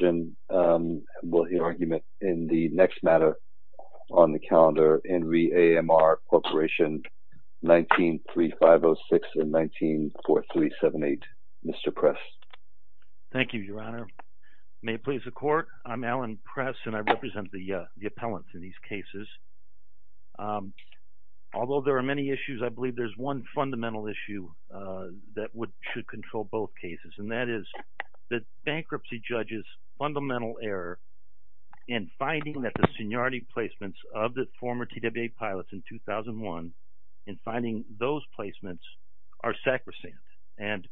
19-3506 and 19-4378. Mr. Press. Thank you, Your Honor. May it please the Court. I'm Alan Press, and I represent the appellants in these cases. Although there are many issues, I believe there's one fundamental issue that should control both cases, and that is the bankruptcy judge's fundamental error in finding that the seniority placements of the former TWA pilots in 2001, in finding those placements, are sacrosanct and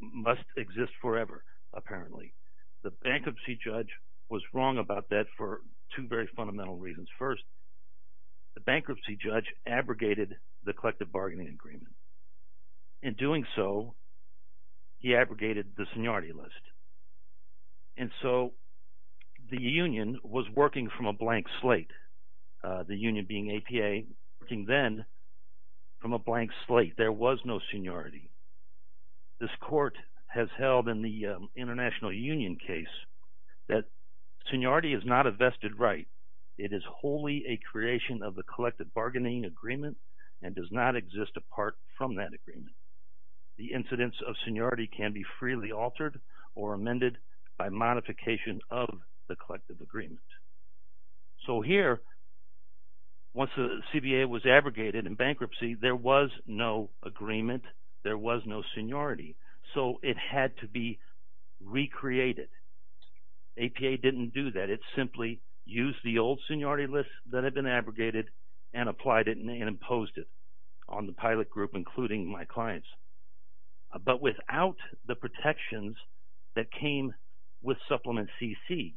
must exist forever, apparently. The bankruptcy judge was wrong about that for two very In doing so, he abrogated the seniority list. And so the union was working from a blank slate, the union being APA, working then from a blank slate. There was no seniority. This Court has held in the International Union case that seniority is not a vested right. It is wholly a creation of the collective bargaining agreement and does not exist apart from that agreement. The incidence of seniority can be freely altered or amended by modification of the collective agreement. So here, once the CBA was abrogated in bankruptcy, there was no agreement, there was no APA didn't do that. It simply used the old seniority list that had been abrogated and applied it and imposed it on the pilot group, including my clients. But without the protections that came with Supplement CC,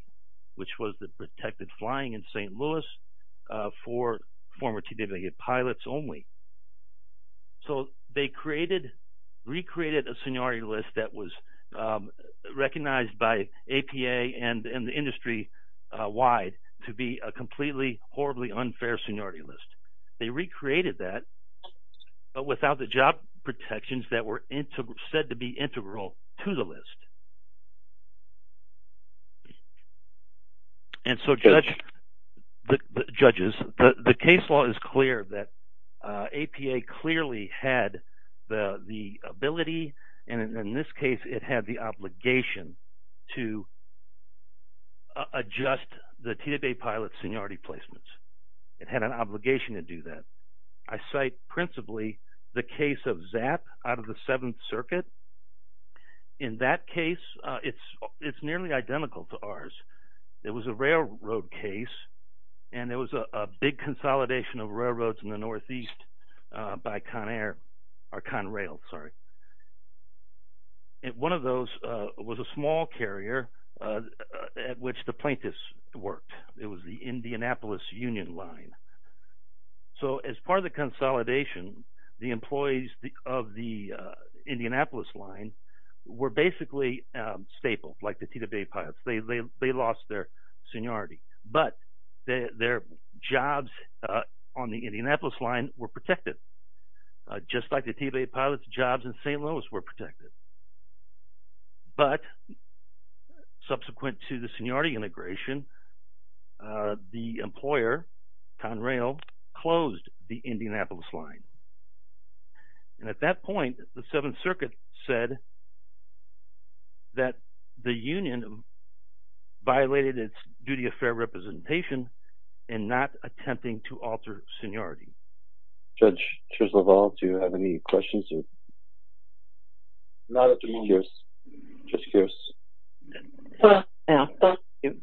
which was the recognized by APA and the industry-wide to be a completely, horribly unfair seniority list. They recreated that, but without the job protections that were said to be integral to the list. And so, judges, the case law is clear that APA clearly had the ability, and in this case, it had the obligation to adjust the TWA pilot seniority placements. It had an obligation to do that. I cite principally the case of ZAP out of the Seventh Circuit. In that case, it's nearly identical to railroad case, and there was a big consolidation of railroads in the northeast by ConAir – or ConRail, sorry. And one of those was a small carrier at which the plaintiffs worked. It was the Indianapolis Union Line. So as part of the seniority. But their jobs on the Indianapolis Line were protected, just like the TWA pilots' jobs in St. Louis were protected. But subsequent to the seniority integration, the employer, ConRail, closed the Indianapolis Line. And at that point, it formulated its duty of fair representation in not attempting to alter seniority. Judge Treslaval, do you have any questions? Not at the moment. Judge Kearse? No, thank you.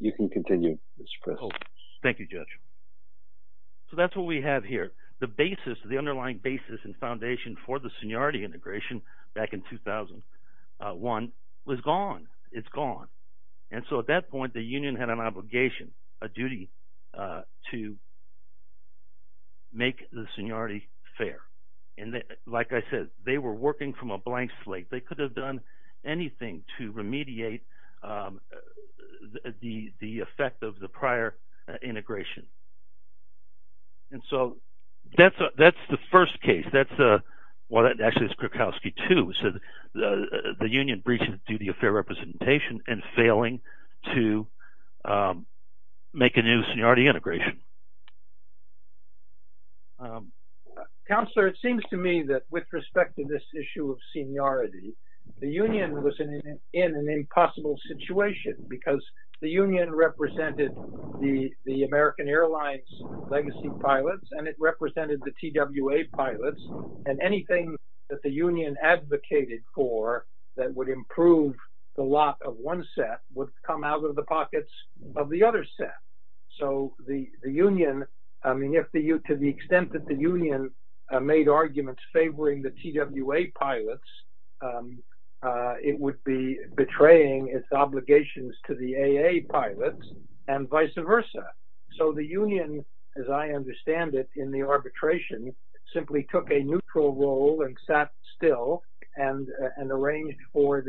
You can continue, Mr. Press. Thank you, Judge. So that's what we have here. The basis, the underlying basis and foundation for the seniority integration back in 2001 was gone. It's gone. And so at that point, the union had an obligation, a duty to make the seniority fair. And like I said, they were working from a blank slate. They could have done anything to remediate the effect of the prior integration. And so that's the first case. Well, that actually is Krakowski 2. So the union breaching the duty of fair representation and failing to make a new seniority integration. Counselor, it seems to me that with respect to this issue of seniority, the union was in an impossible situation because the union represented the American Airlines legacy pilots, and it represented the TWA pilots. And anything that the union advocated for that would improve the lot of one set would come out of the pockets of the other set. So the union, I mean, to the extent that the union made arguments favoring the TWA pilots, it would be betraying its obligations to the AA pilots and vice versa. So the union, as I understand it in the arbitration, simply took a neutral role and sat still and waited for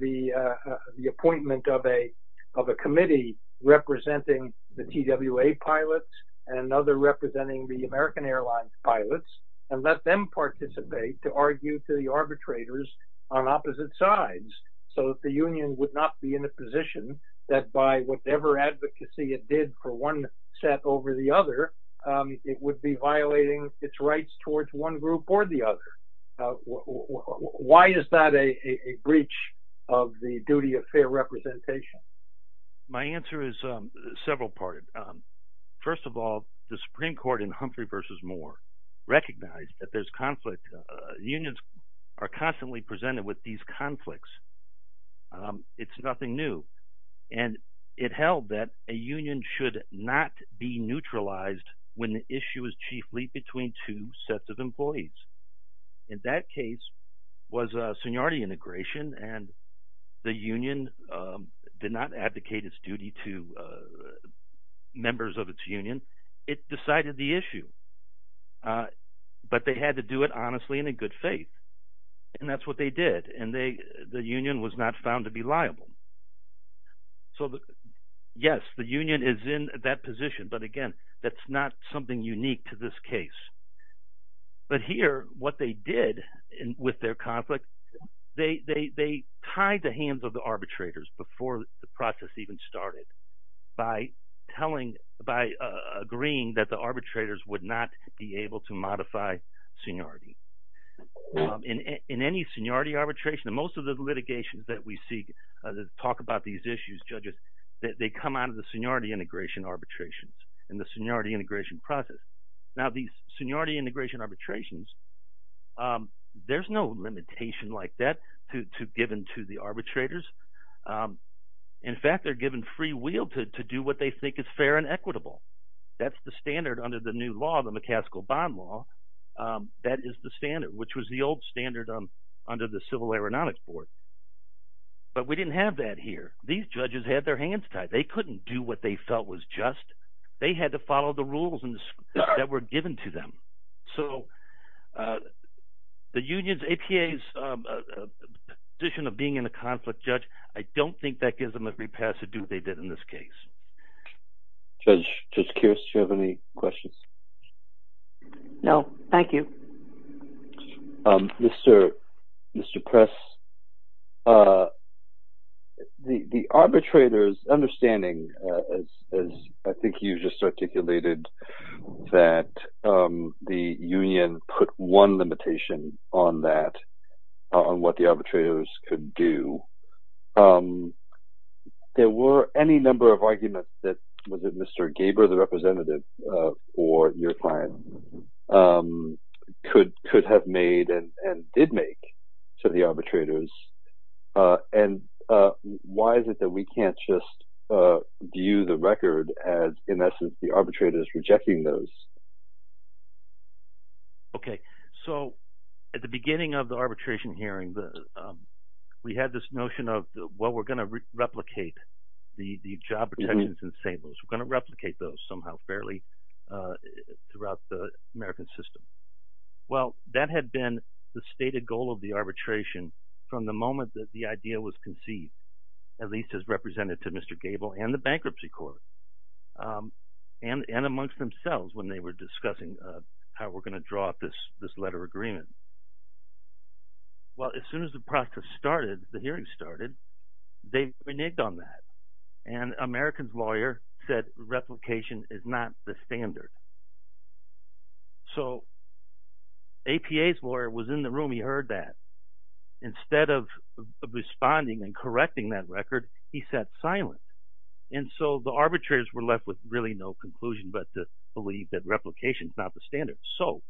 the appointment of a committee representing the TWA pilots and another representing the American Airlines pilots and let them participate to argue to the arbitrators on opposite sides. So the union would not be in a position that by whatever advocacy it did for one set over the other, it would be violating its rights towards one group or the other. Why is that a breach of the duty of fair representation? My answer is several-parted. First of all, the Supreme Court in Humphrey v. Moore recognized that there's conflict. Unions are constantly presented with these conflicts. It's nothing new. And it held that a union should not be neutralized when the issue is chiefly between two sets of employees. In that case was seniority integration, and the union did not advocate its duty to members of its union. It decided the issue, but they had to do it honestly and in good faith, and that's what they did. And the union was not found to be liable. So yes, the union is in that position, but again, that's not something unique to this case. But here, what they did with their conflict, they tied the hands of the arbitrators before the process even started by telling – by agreeing that the in any seniority arbitration, and most of the litigations that we see that talk about these issues, judges, they come out of the seniority integration arbitrations and the seniority integration process. Now, these seniority integration arbitrations, there's no limitation like that given to the arbitrators. In fact, they're given free will to do what they think is fair and equitable. That's the standard under the new law, the McCaskill bond law. That is the standard, which was the old standard under the Civil Aeronautics Board. But we didn't have that here. These judges had their hands tied. They couldn't do what they felt was just. They had to follow the rules that were given to them. So the union's – APA's position of being in a conflict, Judge, I don't think that gives them a free pass to do what they did in this case. Judge Kearse, do you have any questions? No, thank you. Mr. Press, the arbitrators' understanding, as I think you just articulated, that the union put one limitation on that, on what the arbitrators could do. There were any number of arguments that Mr. Gaber, the representative for your client, could have made and did make to the arbitrators. And why is it that we can't just view the record as, in essence, the arbitrators rejecting those? Okay. So at the beginning of the arbitration hearing, we had this notion of, well, we're going to replicate the job protections in St. Louis. We're going to replicate those somehow fairly throughout the American system. Well, that had been the stated goal of the arbitration from the moment that the idea was conceived, at least as represented to Mr. Gabel and the bankruptcy court and amongst themselves when they were discussing how we're going to draw up this letter agreement. Well, as soon as the process started, the hearing started, they reneged on that, and America's lawyer said replication is not the standard. So APA's lawyer was in the room. He heard that. Instead of responding and correcting that record, he sat silent. And so the arbitrators were left with really no conclusion but to believe that replication is not the standard. So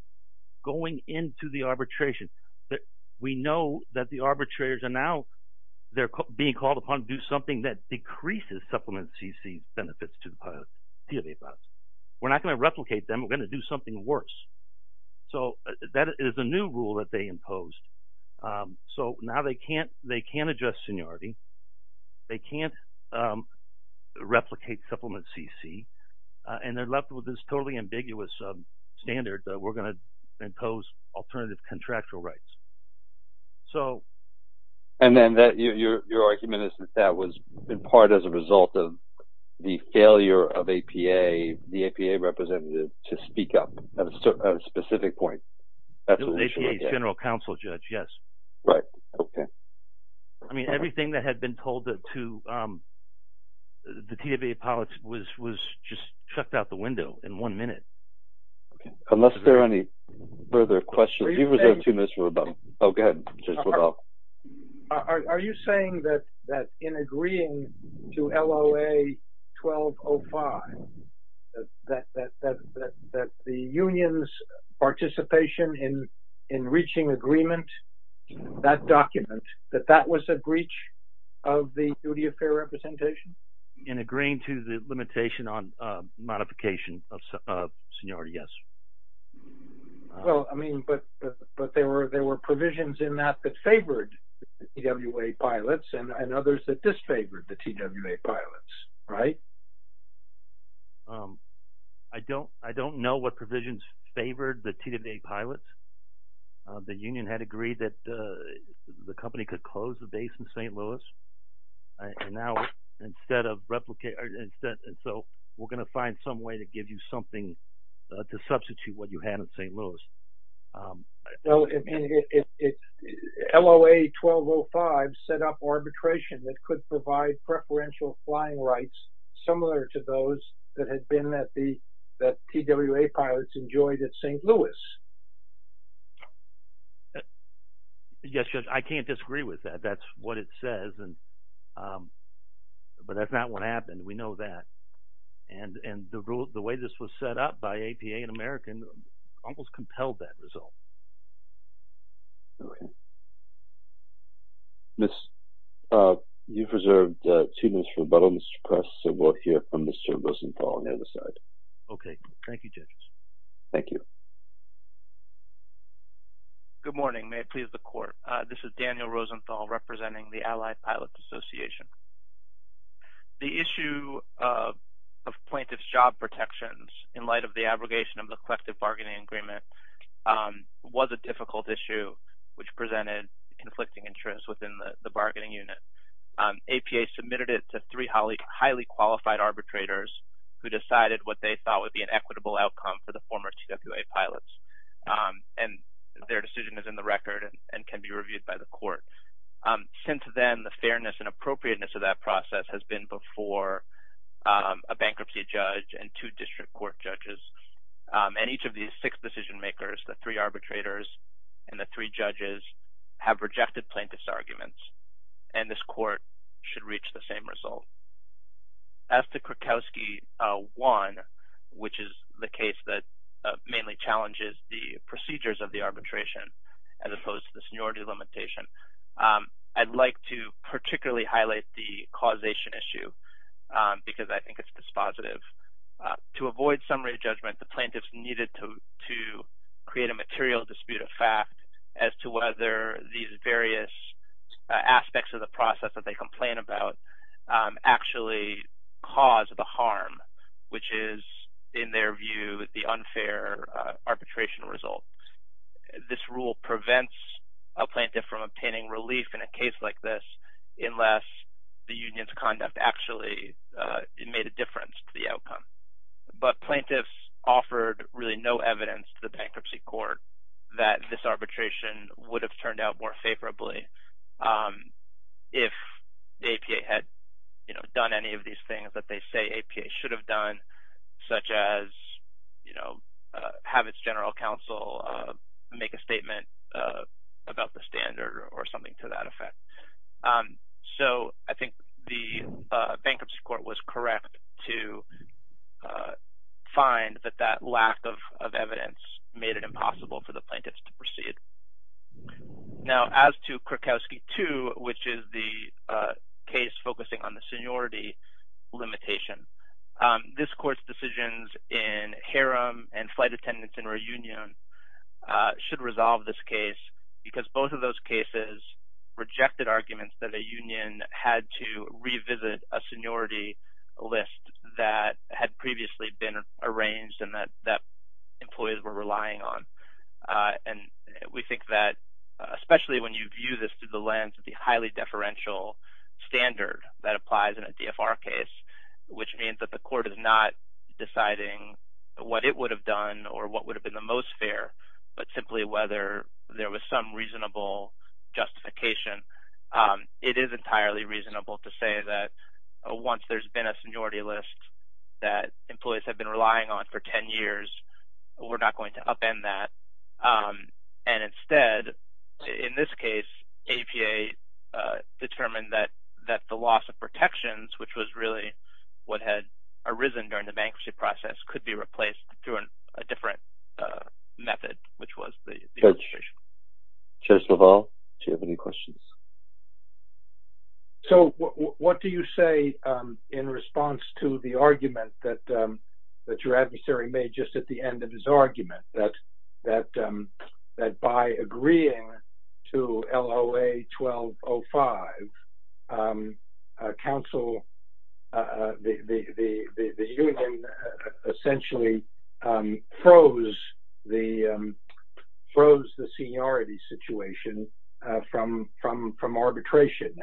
going into the arbitration, we know that the arbitrators are now – they're being called upon to do something that decreases Supplement CC benefits to the PLA process. We're not going to replicate them. We're going to do something worse. So that is a new rule that they imposed. So now they can't adjust seniority. They can't replicate Supplement CC, and they're left with this totally ambiguous standard that we're going to impose alternative contractual rights. So – And then your argument is that that was in part as a result of the failure of APA, the APA representative, to speak up at a specific point. Absolutely. APA's general counsel judge, yes. Right. Okay. I mean, everything that had been told to the TWA politics was just chucked out the window in one minute. Unless there are any further questions – Participation in reaching agreement, that document, that that was a breach of the duty of fair representation? In agreeing to the limitation on modification of seniority, yes. Well, I mean, but there were provisions in that that favored the TWA pilots and others that disfavored the TWA pilots, right? I don't know what provisions favored the TWA pilots. The union had agreed that the company could close the base in St. Louis. And now instead of – so we're going to find some way to give you something to substitute what you had in St. Louis. Well, I mean, LOA 1205 set up arbitration that could provide preferential flying rights similar to those that had been – that TWA pilots enjoyed at St. Louis. Yes, Judge, I can't disagree with that. That's what it says. But that's not what happened. We know that. And the way this was set up by APA and American almost compelled that result. Okay. Miss – you've reserved two minutes for rebuttal, Mr. Kress, so we'll hear from Mr. Rosenthal on the other side. Okay. Thank you, Judge. Thank you. Good morning. May it please the Court. This is Daniel Rosenthal representing the Allied Pilots Association. The issue of plaintiff's job protections in light of the abrogation of the collective bargaining agreement was a difficult issue which presented conflicting interests within the bargaining unit. APA submitted it to three highly qualified arbitrators who decided what they thought would be an equitable outcome for the former TWA pilots. And their decision is in the record and can be reviewed by the Court. Since then, the fairness and appropriateness of that process has been before a bankruptcy judge and two district court judges. And each of these six decision makers, the three arbitrators and the three judges, have rejected plaintiff's arguments. And this Court should reach the same result. As to Krakowski 1, which is the case that mainly challenges the procedures of the arbitration as opposed to the seniority limitation, I'd like to particularly highlight the causation issue because I think it's dispositive. To avoid summary judgment, the plaintiffs needed to create a material dispute of fact as to whether these various aspects of the process that they complain about actually cause the harm, which is, in their view, the unfair arbitration result. This rule prevents a plaintiff from obtaining relief in a case like this unless the union's conduct actually made a difference to the outcome. But plaintiffs offered really no evidence to the bankruptcy court that this arbitration would have turned out more favorably if APA had done any of these things that they say APA should have done, such as have its general counsel make a statement about the standard or something to that effect. So I think the bankruptcy court was correct to find that that lack of evidence made it impossible for the plaintiffs to proceed. Now, as to Krakowski 2, which is the case focusing on the seniority limitation, this court's decisions in harem and flight attendants in reunion should resolve this case because both of those cases rejected arguments that a union had to revisit a seniority list that had previously been arranged and that employees were relying on. And we think that, especially when you view this through the lens of the highly deferential standard that applies in a DFR case, which means that the court is not deciding what it would have done or what would have been the most fair, but simply whether there was some reasonable justification. It is entirely reasonable to say that once there's been a seniority list that employees have been relying on for 10 years, we're not going to upend that. And instead, in this case, APA determined that the loss of protections, which was really what had arisen during the bankruptcy process, could be replaced through a different method, which was the registration. Judge LaValle, do you have any questions? So, what do you say in response to the argument that your adversary made just at the end of his argument, that by agreeing to LOA 1205, the union essentially froze the seniority situation from arbitration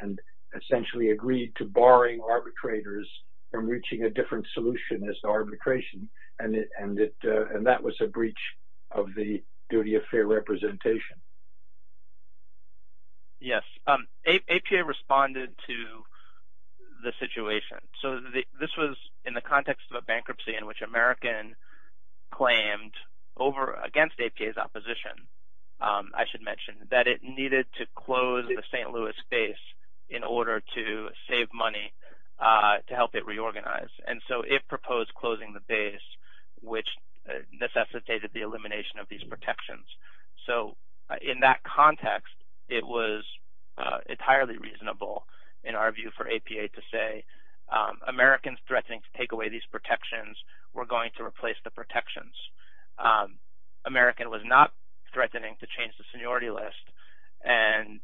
and essentially agreed to barring arbitrators from reaching a different solution as to arbitration. And that was a breach of the duty of fair representation. Yes. APA responded to the situation. So, this was in the context of a bankruptcy in which American claimed against APA's opposition, I should mention, that it needed to close the St. Louis base in order to save money to help it reorganize. And so, it proposed closing the base, which necessitated the elimination of these protections. So, in that context, it was entirely reasonable in our view for APA to say, Americans threatening to take away these protections were going to replace the protections. American was not threatening to change the seniority list. And,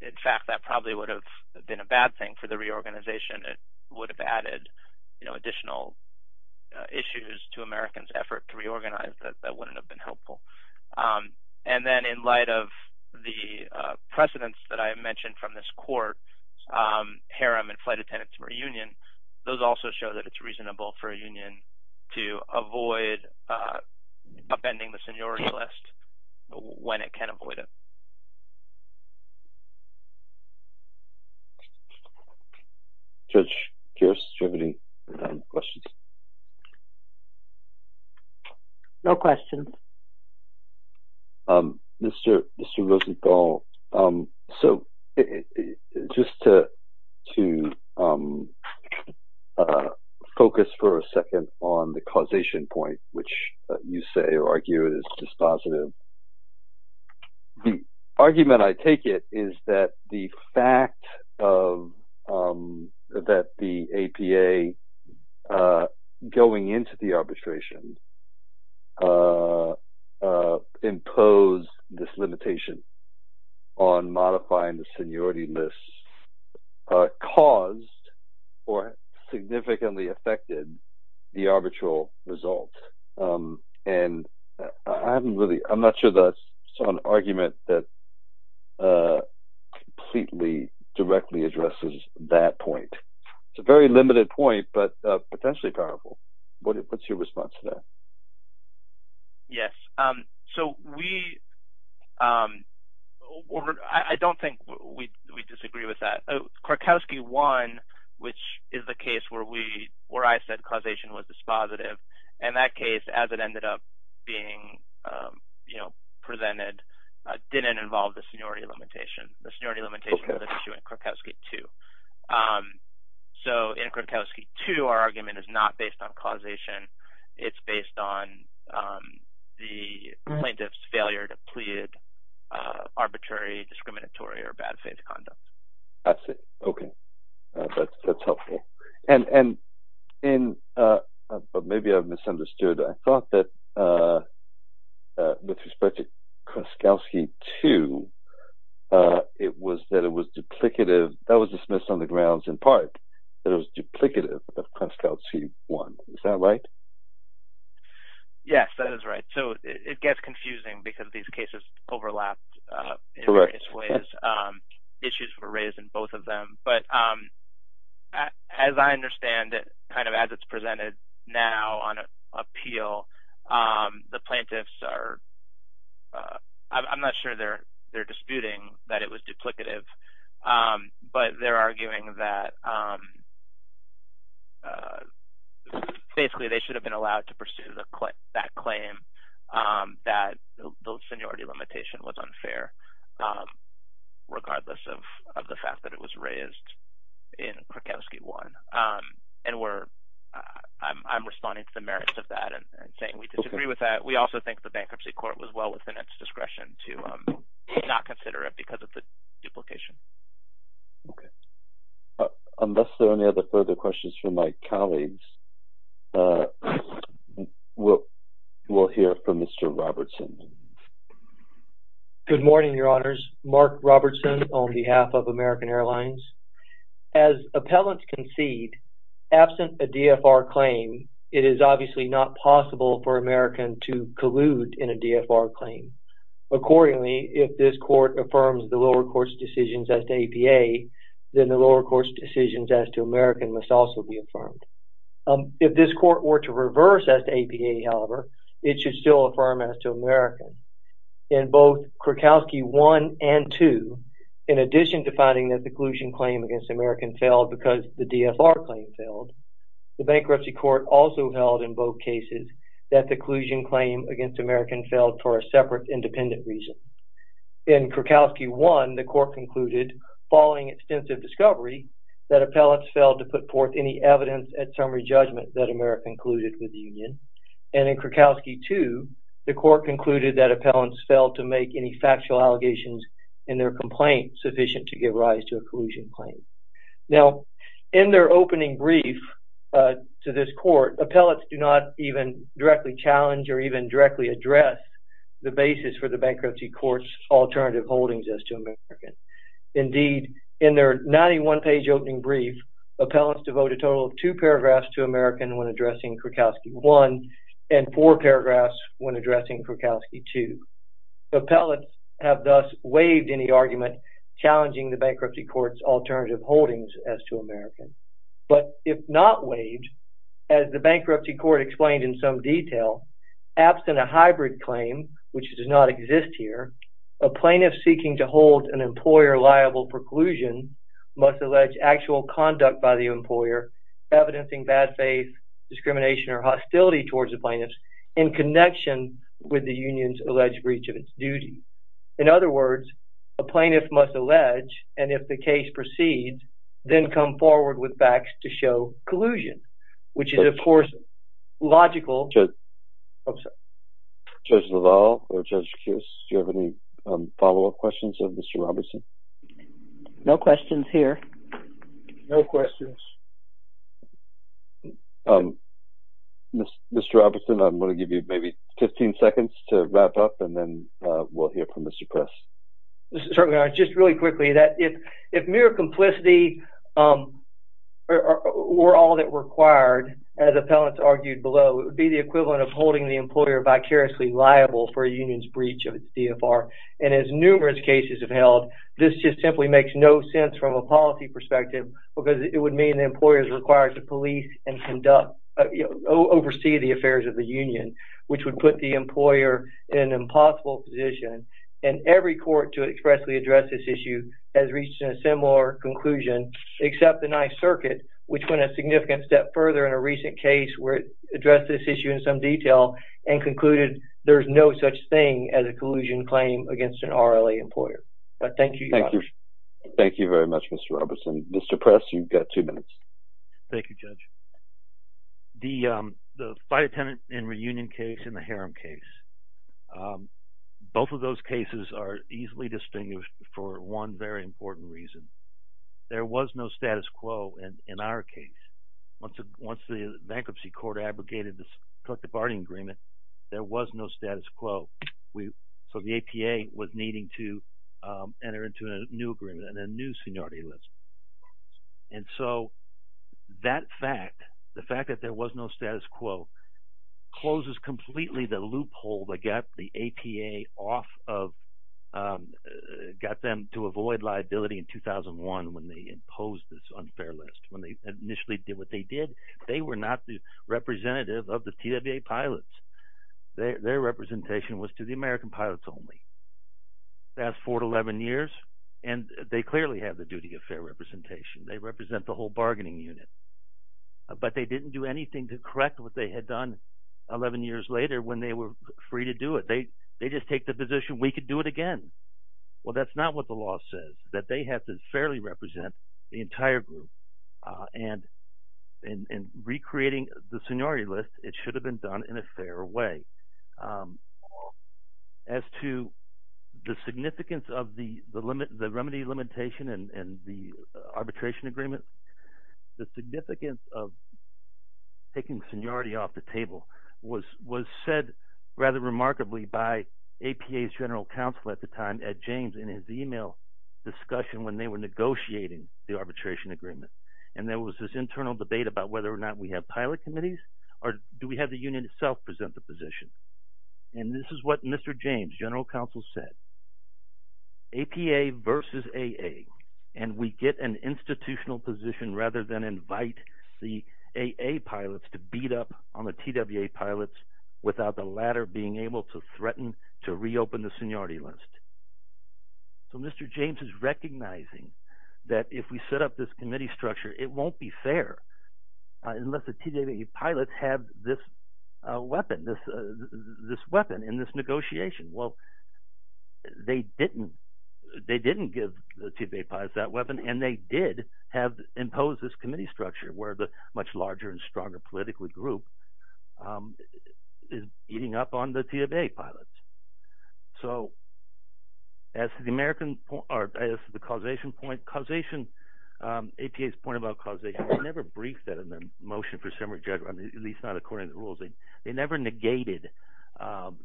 in fact, that probably would have been a bad thing for the reorganization. It would have added additional issues to American's effort to reorganize. That wouldn't have been helpful. And then, in light of the precedents that I mentioned from this court, harem and flight attendants for a union, those also show that it's reasonable for a union to avoid upending the seniority list when it can avoid it. Judge Pierce, do you have any questions? No questions. Mr. Rosenthal, so, just to focus for a second on the causation point, which you say or argue is dispositive. The argument I take it is that the fact that the APA going into the arbitration imposed this limitation on modifying the seniority list caused or significantly affected the arbitral result. And I'm not sure that's an argument that completely directly addresses that point. It's a very limited point, but potentially powerful. What's your response to that? Yes. So, I don't think we disagree with that. Krakowski won, which is the case where I said causation was dispositive. The case, as it ended up being presented, didn't involve the seniority limitation. The seniority limitation was an issue in Krakowski 2. So, in Krakowski 2, our argument is not based on causation. It's based on the plaintiff's failure to plead arbitrary, discriminatory, or bad faith conduct. That's it. Okay. That's helpful. And maybe I've misunderstood. I thought that with respect to Krakowski 2, it was that it was duplicative. That was dismissed on the grounds in part that it was duplicative of Krakowski 1. Is that right? Yes, that is right. So, it gets confusing because these cases overlap in various ways. Issues were raised in both of them. But, as I understand it, kind of as it's presented now on appeal, the plaintiffs are – I'm not sure they're disputing that it was duplicative, but they're arguing that basically they should have been allowed to pursue that claim that the seniority limitation was unfair regardless of the fact that it was raised in Krakowski 1. And we're – I'm responding to the merits of that and saying we disagree with that. We also think the bankruptcy court was well within its discretion to not consider it because of the duplication. Okay. Unless there are any other further questions from my colleagues, we'll hear from Mr. Robertson. Good morning, Your Honors. Mark Robertson on behalf of American Airlines. As appellants concede, absent a DFR claim, it is obviously not possible for American to collude in a DFR claim. Accordingly, if this court affirms the lower court's decisions as to APA, then the lower court's decisions as to American must also be affirmed. If this court were to reverse as to APA, however, it should still affirm as to American. In both Krakowski 1 and 2, in addition to finding that the collusion claim against American failed because the DFR claim failed, the bankruptcy court also held in both cases that the collusion claim against American failed for a separate independent reason. In Krakowski 1, the court concluded following extensive discovery that appellants failed to put forth any evidence at summary judgment that American colluded with the union. And in Krakowski 2, the court concluded that appellants failed to make any factual allegations in their complaint sufficient to give rise to a collusion claim. Now, in their opening brief to this court, appellants do not even directly challenge or even directly address the basis for the bankruptcy court's alternative holdings as to American. Indeed, in their 91-page opening brief, appellants devote a total of two paragraphs to American when addressing Krakowski 1 and four paragraphs when addressing Krakowski 2. Appellants have thus waived any argument challenging the bankruptcy court's alternative holdings as to American. But if not waived, as the bankruptcy court explained in some detail, absent a hybrid claim, which does not exist here, a plaintiff seeking to hold an employer liable preclusion must allege actual conduct by the employer evidencing bad faith, discrimination, or hostility towards the plaintiffs in connection with the union's alleged breach of its duty. In other words, a plaintiff must allege, and if the case proceeds, then come forward with facts to show collusion, which is, of course, logical. Judge LaValle or Judge Kius, do you have any follow-up questions of Mr. Robertson? No questions here. No questions. Mr. Robertson, I'm going to give you maybe 15 seconds to wrap up, and then we'll hear from Mr. Press. Certainly, I just really quickly that if mere complicity were all that required, as appellants argued below, it would be the equivalent of holding the employer vicariously liable for a union's breach of its DFR. And as numerous cases have held, this just simply makes no sense from a policy perspective because it would mean the employer is required to police and oversee the affairs of the union, which would put the employer in an impossible position. And every court to expressly address this issue has reached a similar conclusion, except the Ninth Circuit, which went a significant step further in a recent case where it addressed this issue in some detail and concluded there's no such thing as a collusion claim against an RLA employer. But thank you, Judge. Thank you very much, Mr. Robertson. Mr. Press, you've got two minutes. Thank you, Judge. The flight attendant and reunion case and the harem case, both of those cases are easily distinguished for one very important reason. There was no status quo in our case. Once the bankruptcy court abrogated this collective bargaining agreement, there was no status quo. So the APA was needing to enter into a new agreement and a new seniority list. And so that fact, the fact that there was no status quo, closes completely the loophole that got the APA off of – got them to avoid liability in 2001 when they imposed this unfair list, when they initially did what they did. They were not the representative of the TWA pilots. Their representation was to the American pilots only. That's four to 11 years, and they clearly have the duty of fair representation. They represent the whole bargaining unit. But they didn't do anything to correct what they had done 11 years later when they were free to do it. They just take the position, we could do it again. Well, that's not what the law says, that they have to fairly represent the entire group. And in recreating the seniority list, it should have been done in a fair way. As to the significance of the remedy limitation and the arbitration agreement, the significance of taking seniority off the table was said rather remarkably by APA's general counsel at the time, Ed James, in his email discussion when they were negotiating the arbitration agreement. And there was this internal debate about whether or not we have pilot committees, or do we have the union itself present the position? And this is what Mr. James, general counsel, said. APA versus AA, and we get an institutional position rather than invite the AA pilots to beat up on the TWA pilots without the latter being able to threaten to reopen the seniority list. So Mr. James is recognizing that if we set up this committee structure, it won't be fair unless the TWA pilots have this weapon, this weapon in this negotiation. Well, they didn't give the TWA pilots that weapon, and they did impose this committee structure where the much larger and stronger political group is beating up on the TWA pilots. So as to the causation point, APA's point about causation, they never briefed that in their motion for summary judgment, at least not according to the rules. They never negated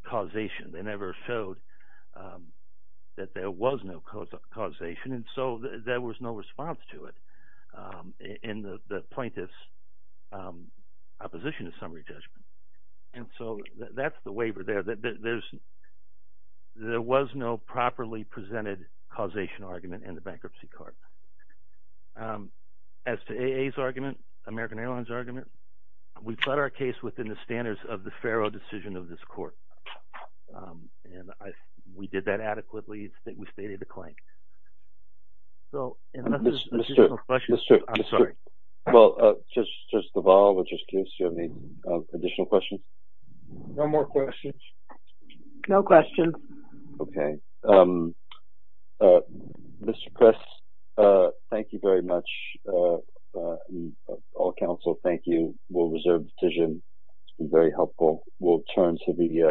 causation. They never showed that there was no causation, and so there was no response to it in the plaintiff's opposition to summary judgment. And so that's the waiver there. There was no properly presented causation argument in the bankruptcy court. As to AA's argument, American Airlines' argument, we've set our case within the standards of the FARA decision of this court, and we did that adequately. I think we stated the claim. So if there's additional questions, I'm sorry. Well, Justice Duval, would you excuse me? Additional questions? No more questions. No questions. Okay. Mr. Press, thank you very much. All counsel, thank you. We'll reserve the decision. It's been very helpful.